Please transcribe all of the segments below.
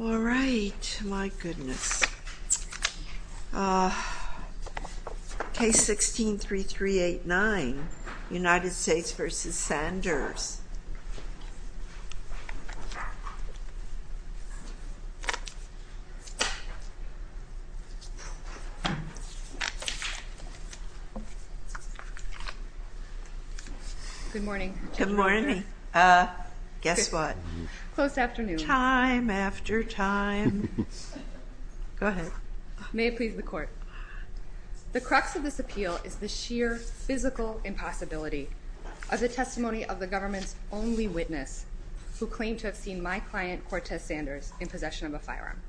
All right. My goodness. Case 16-3389, United States v. Sanders. Good morning. Good morning. Guess what? Close afternoon. Time after time. Go ahead. May it please the court. The crux of this appeal is the sheer physical impossibility of the testimony of the government's only witness who claimed to have seen my client, Cortez Sanders, in possession of a firearm.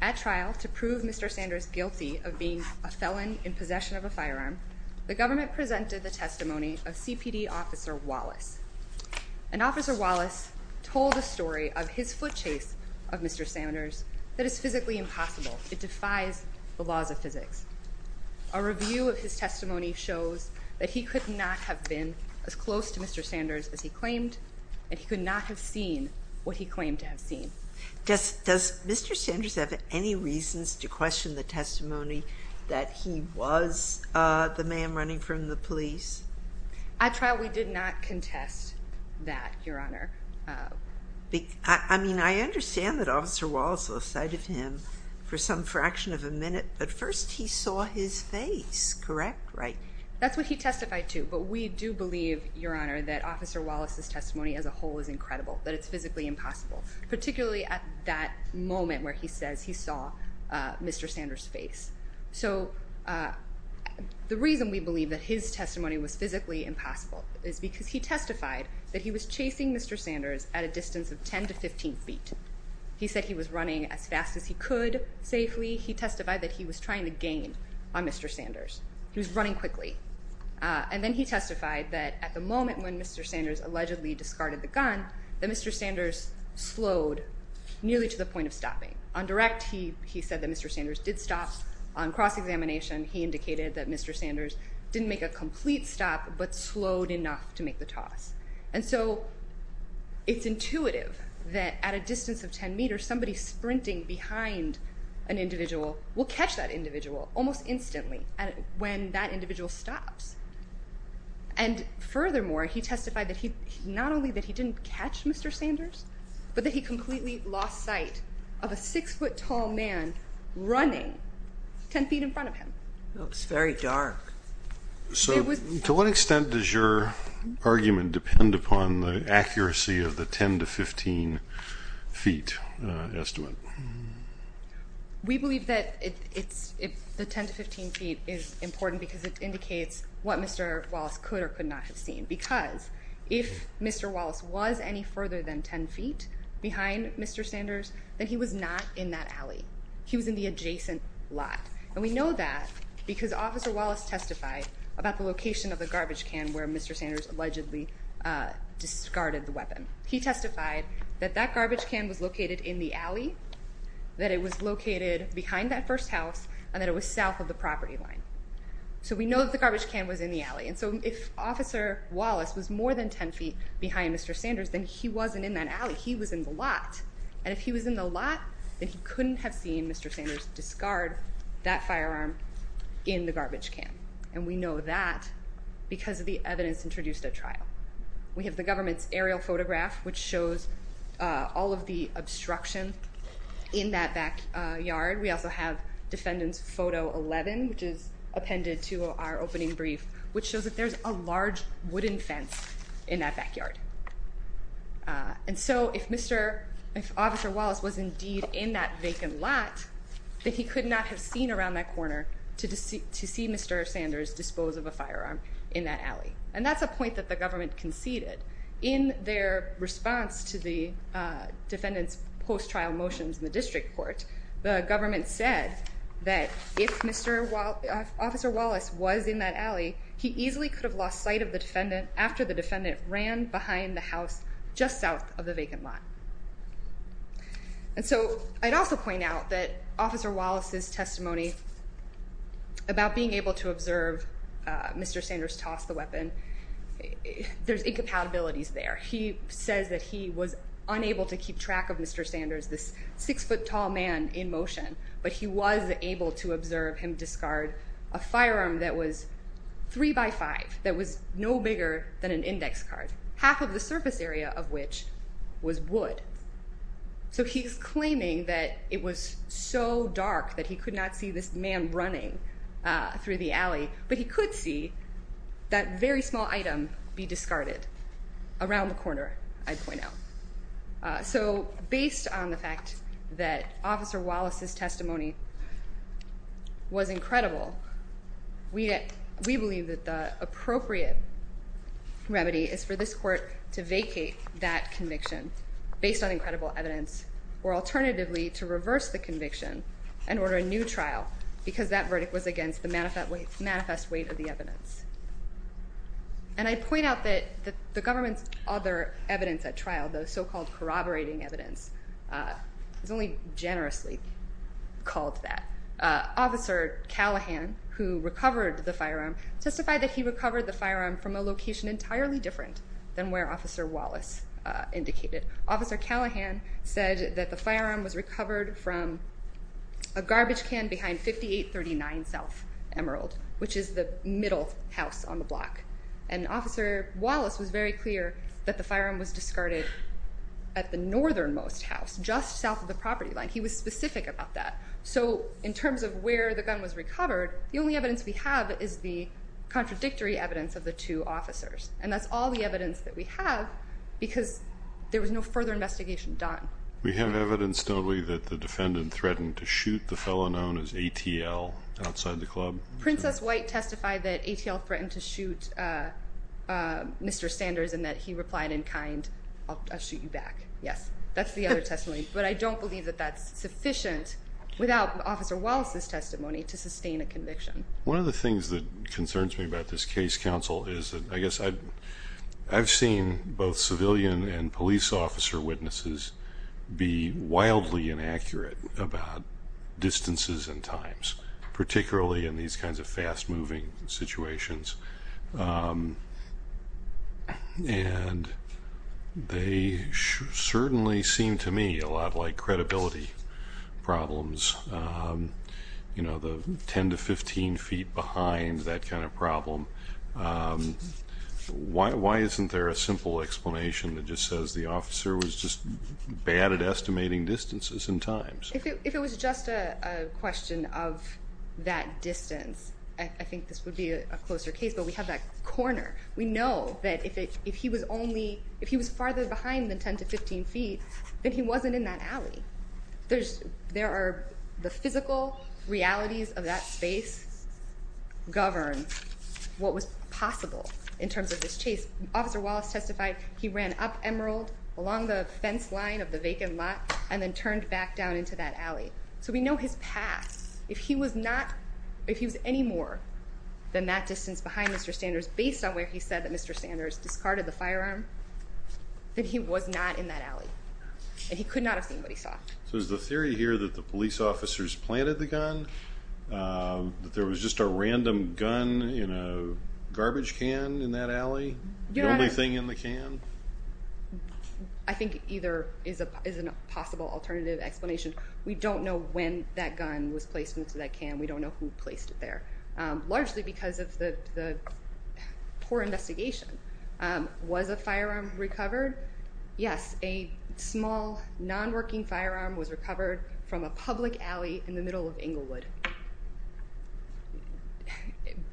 At trial, to prove Mr. Sanders guilty of being a felon in possession of a firearm, the government presented the testimony of CPD Officer Wallace. And Officer Wallace told a story of his foot chase of Mr. Sanders that is physically impossible. It defies the laws of physics. A review of his testimony shows that he could not have been as close to Mr. Sanders as he claimed, and he could not have seen what he claimed to have seen. Does Mr. Sanders have any reasons to question the testimony that he was the man running from the police? At trial, we did not contest that, Your Honor. I mean, I understand that Officer Wallace lost sight of him for some fraction of a minute, but first he saw his face, correct? That's what he testified to. But we do believe, Your Honor, that Officer Wallace's testimony as a whole is incredible, that it's physically impossible, particularly at that moment where he says he saw Mr. Sanders' face. So the reason we believe that his testimony was physically impossible is because he testified that he was chasing Mr. Sanders at a distance of 10 to 15 feet. He said he was running as fast as he could safely. He testified that he was trying to gain on Mr. Sanders. He was running quickly. And then he testified that at the moment when Mr. Sanders allegedly discarded the gun, that Mr. Sanders slowed nearly to the point of stopping. On direct, he said that Mr. Sanders did stop. On cross-examination, he indicated that Mr. Sanders didn't make a complete stop but slowed enough to make the toss. And so it's intuitive that at a distance of 10 meters, somebody sprinting behind an individual will catch that individual almost instantly when that individual stops. And furthermore, he testified not only that he didn't catch Mr. Sanders but that he completely lost sight of a 6-foot tall man running 10 feet in front of him. It's very dark. So to what extent does your argument depend upon the accuracy of the 10 to 15 feet estimate? We believe that the 10 to 15 feet is important because it indicates what Mr. Wallace could or could not have seen because if Mr. Wallace was any further than 10 feet behind Mr. Sanders, then he was not in that alley. He was in the adjacent lot. And we know that because Officer Wallace testified about the location of the garbage can where Mr. Sanders allegedly discarded the weapon. He testified that that garbage can was located in the alley, that it was located behind that first house, and that it was south of the property line. So we know that the garbage can was in the alley. And so if Officer Wallace was more than 10 feet behind Mr. Sanders, then he wasn't in that alley. He was in the lot. And if he was in the lot, then he couldn't have seen Mr. Sanders discard that firearm in the garbage can. And we know that because the evidence introduced at trial. We have the government's aerial photograph, which shows all of the obstruction in that backyard. We also have defendant's photo 11, which is appended to our opening brief, which shows that there's a large wooden fence in that backyard. And so if Officer Wallace was indeed in that vacant lot, then he could not have seen around that corner to see Mr. Sanders dispose of a firearm in that alley. And that's a point that the government conceded. In their response to the defendant's post-trial motions in the district court, the government said that if Officer Wallace was in that alley, he easily could have lost sight of the defendant after the defendant ran behind the house just south of the vacant lot. And so I'd also point out that Officer Wallace's testimony about being able to observe Mr. Sanders toss the weapon, there's incompatibilities there. He says that he was unable to keep track of Mr. Sanders, this six-foot-tall man in motion, but he was able to observe him discard a firearm that was three by five, that was no bigger than an index card, half of the surface area of which was wood. So he's claiming that it was so dark that he could not see this man running through the alley, but he could see that very small item be discarded around the corner, I'd point out. So based on the fact that Officer Wallace's testimony was incredible, we believe that the appropriate remedy is for this court to vacate that conviction based on incredible evidence or alternatively to reverse the conviction and order a new trial because that verdict was against the manifest weight of the evidence. And I point out that the government's other evidence at trial, the so-called corroborating evidence, is only generously called that. Officer Callahan, who recovered the firearm, testified that he recovered the firearm from a location entirely different than where Officer Wallace indicated. Officer Callahan said that the firearm was recovered from a garbage can behind 5839 South Emerald, which is the middle house on the block. And Officer Wallace was very clear that the firearm was discarded at the northernmost house, just south of the property line. He was specific about that. So in terms of where the gun was recovered, the only evidence we have is the contradictory evidence of the two officers. And that's all the evidence that we have because there was no further investigation done. We have evidence, don't we, that the defendant threatened to shoot the fellow known as ATL outside the club? Princess White testified that ATL threatened to shoot Mr. Sanders and that he replied in kind, I'll shoot you back. Yes, that's the other testimony. But I don't believe that that's sufficient without Officer Wallace's testimony to sustain a conviction. One of the things that concerns me about this case, counsel, is that I guess I've seen both civilian and police officer witnesses be wildly inaccurate about distances and times, particularly in these kinds of fast-moving situations. And they certainly seem to me a lot like credibility problems. You know, the 10 to 15 feet behind, that kind of problem. Why isn't there a simple explanation that just says the officer was just bad at estimating distances and times? If it was just a question of that distance, I think this would be a closer case. But we have that corner. We know that if he was farther behind than 10 to 15 feet, then he wasn't in that alley. There are the physical realities of that space govern what was possible in terms of this case. Officer Wallace testified he ran up Emerald along the fence line of the vacant lot and then turned back down into that alley. So we know his path. If he was any more than that distance behind Mr. Sanders, based on where he said that Mr. Sanders discarded the firearm, then he was not in that alley. And he could not have seen what he saw. So is the theory here that the police officers planted the gun, that there was just a random gun in a garbage can in that alley, the only thing in the can? I think either is a possible alternative explanation. We don't know when that gun was placed into that can. We don't know who placed it there. Largely because of the poor investigation. Was a firearm recovered? Yes, a small, non-working firearm was recovered from a public alley in the middle of Englewood.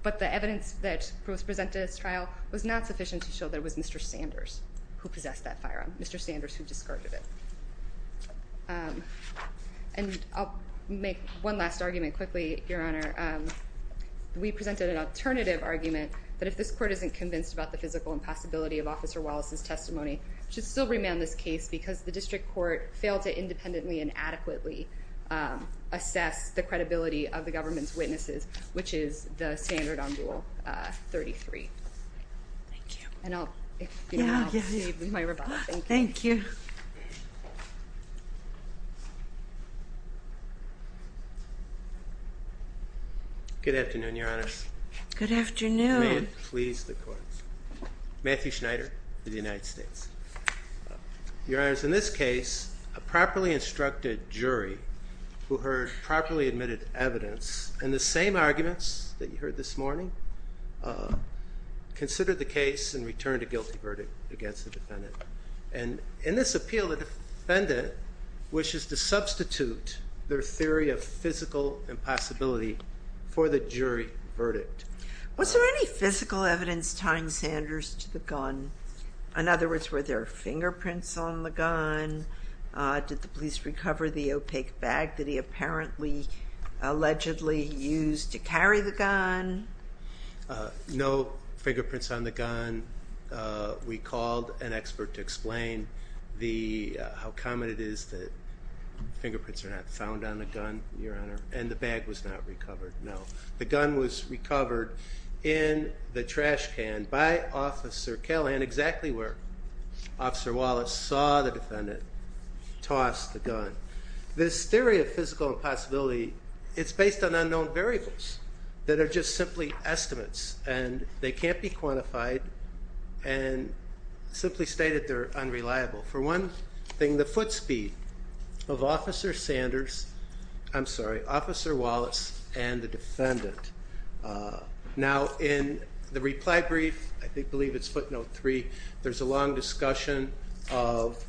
But the evidence that was presented at this trial was not sufficient to show that it was Mr. Sanders who possessed that firearm, Mr. Sanders who discarded it. And I'll make one last argument quickly, Your Honor. We presented an alternative argument, that if this court isn't convinced about the physical impossibility of Officer Wallace's testimony, it should still remand this case because the district court failed to independently and adequately assess the credibility of the government's witnesses, which is the standard on Rule 33. Thank you. Thank you. Good afternoon, Your Honors. Good afternoon. May it please the courts. Matthew Schneider of the United States. Your Honors, in this case, a properly instructed jury who heard properly admitted evidence in the same arguments that you heard this morning, considered the case and returned a guilty verdict against the defendant. And in this appeal, the defendant wishes to substitute their theory of physical impossibility for the jury verdict. Was there any physical evidence tying Sanders to the gun? In other words, were there fingerprints on the gun? Did the police recover the opaque bag that he apparently, allegedly used to carry the gun? No fingerprints on the gun. We called an expert to explain how common it is that fingerprints are not found on a gun, Your Honor. And the bag was not recovered, no. The gun was recovered in the trash can by Officer Kelley, and exactly where Officer Wallace saw the defendant toss the gun. This theory of physical impossibility, it's based on unknown variables that are just simply estimates. And they can't be quantified and simply stated they're unreliable. For one thing, the foot speed of Officer Sanders, I'm sorry, Officer Wallace and the defendant. Now, in the reply brief, I believe it's footnote three, there's a long discussion of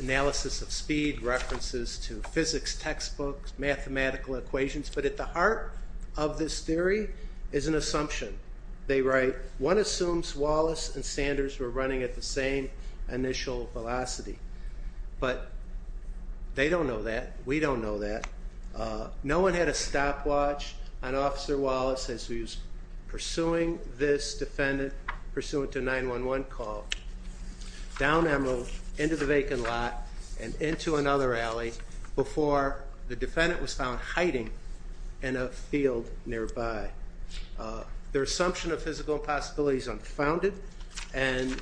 analysis of speed, references to physics textbooks, mathematical equations. But at the heart of this theory is an assumption. They write, one assumes Wallace and Sanders were running at the same initial velocity. But they don't know that. We don't know that. No one had a stopwatch on Officer Wallace as he was pursuing this defendant, pursuant to a 911 call, down Emerald, into the vacant lot, and into another alley before the defendant was found hiding in a field nearby. Their assumption of physical impossibility is unfounded, and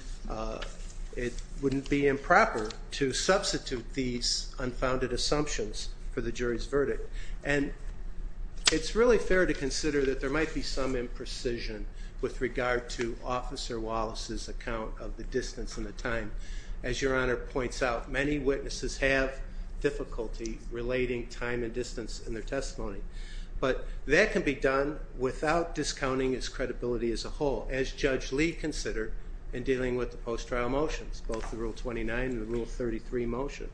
it wouldn't be improper to substitute these unfounded assumptions for the jury's verdict. And it's really fair to consider that there might be some imprecision with regard to Officer Wallace's account of the distance and the time. As Your Honor points out, many witnesses have difficulty relating time and distance in their testimony. But that can be done without discounting his credibility as a whole, as Judge Lee considered in dealing with the post-trial motions, both the Rule 29 and the Rule 33 motion.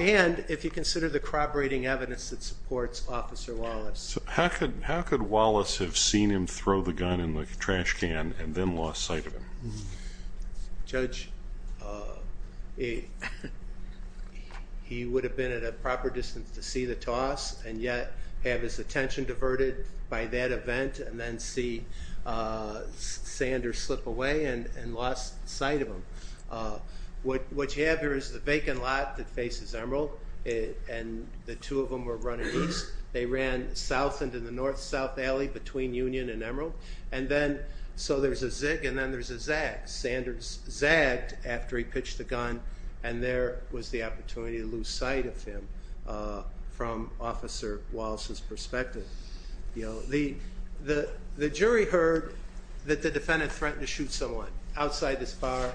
And if you consider the corroborating evidence that supports Officer Wallace. How could Wallace have seen him throw the gun in the trash can and then lost sight of him? Judge, he would have been at a proper distance to see the toss, and yet have his attention diverted by that event, and then see Sanders slip away and lost sight of him. What you have here is the vacant lot that faces Emerald, and the two of them were running east. They ran south into the north-south alley between Union and Emerald. So there's a zig and then there's a zag. Sanders zagged after he pitched the gun, and there was the opportunity to lose sight of him from Officer Wallace's perspective. The jury heard that the defendant threatened to shoot someone outside this bar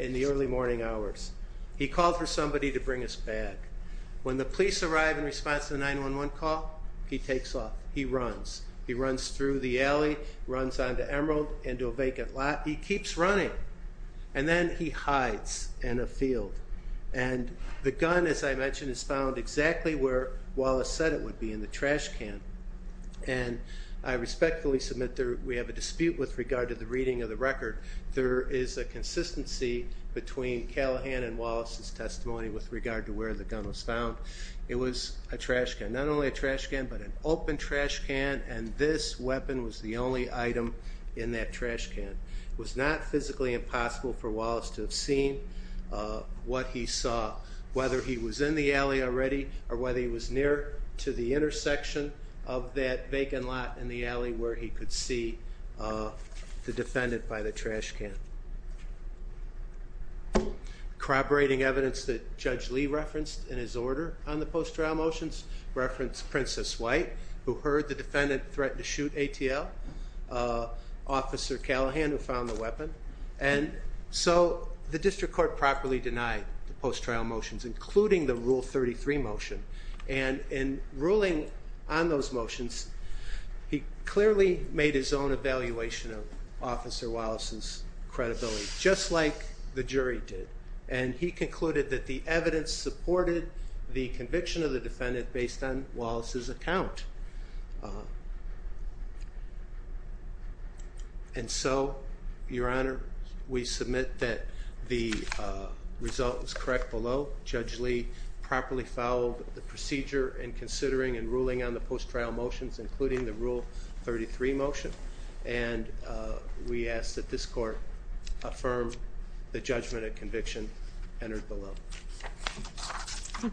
in the early morning hours. He called for somebody to bring his bag. When the police arrived in response to the 911 call, he takes off. He runs. He runs through the alley, runs onto Emerald, into a vacant lot. He keeps running, and then he hides in a field. And the gun, as I mentioned, is found exactly where Wallace said it would be, in the trash can. And I respectfully submit that we have a dispute with regard to the reading of the record. There is a consistency between Callahan and Wallace's testimony with regard to where the gun was found. It was a trash can, not only a trash can but an open trash can, and this weapon was the only item in that trash can. It was not physically impossible for Wallace to have seen what he saw, whether he was in the alley already or whether he was near to the intersection of that vacant lot in the alley where he could see the defendant by the trash can. Corroborating evidence that Judge Lee referenced in his order on the post-trial motions referenced Princess White, who heard the defendant threaten to shoot ATL, Officer Callahan, who found the weapon. And so the district court properly denied the post-trial motions, including the Rule 33 motion. And in ruling on those motions, he clearly made his own evaluation of Officer Wallace's credibility, just like the jury did. And he concluded that the evidence supported the conviction of the defendant based on Wallace's account. And so, Your Honor, we submit that the result was correct below. Judge Lee properly followed the procedure in considering and ruling on the post-trial motions, including the Rule 33 motion. And we ask that this court affirm the judgment of conviction entered below. Thank you.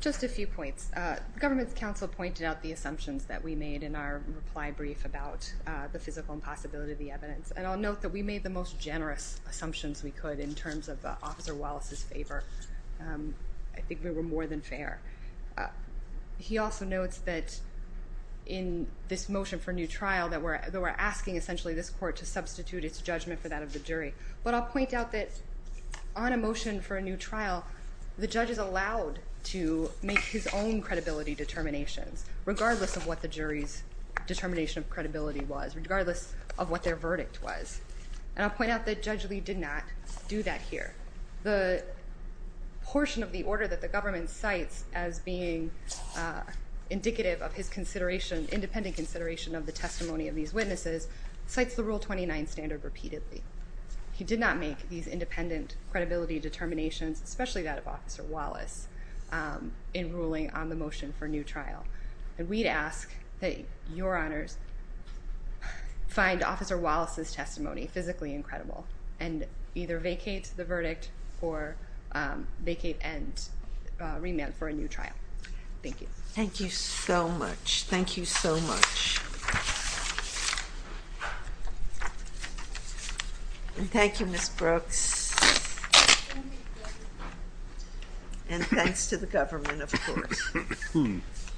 Just a few points. The Government's Counsel pointed out the assumptions that we made in our reply brief about the physical impossibility of the evidence. And I'll note that we made the most generous assumptions we could in terms of Officer Wallace's favor. I think we were more than fair. He also notes that in this motion for new trial, that we're asking essentially this court to substitute its judgment for that of the jury. But I'll point out that on a motion for a new trial, the judge is allowed to make his own credibility determinations, regardless of what the jury's determination of credibility was, regardless of what their verdict was. And I'll point out that Judge Lee did not do that here. The portion of the order that the Government cites as being indicative of his independent consideration of the testimony of these witnesses cites the Rule 29 standard repeatedly. He did not make these independent credibility determinations, especially that of Officer Wallace, in ruling on the motion for new trial. And we'd ask that Your Honors find Officer Wallace's testimony physically incredible and either vacate the verdict or vacate and remand for a new trial. Thank you. Thank you so much. Thank you so much. And thank you, Ms. Brooks. And thanks to the Government, of course.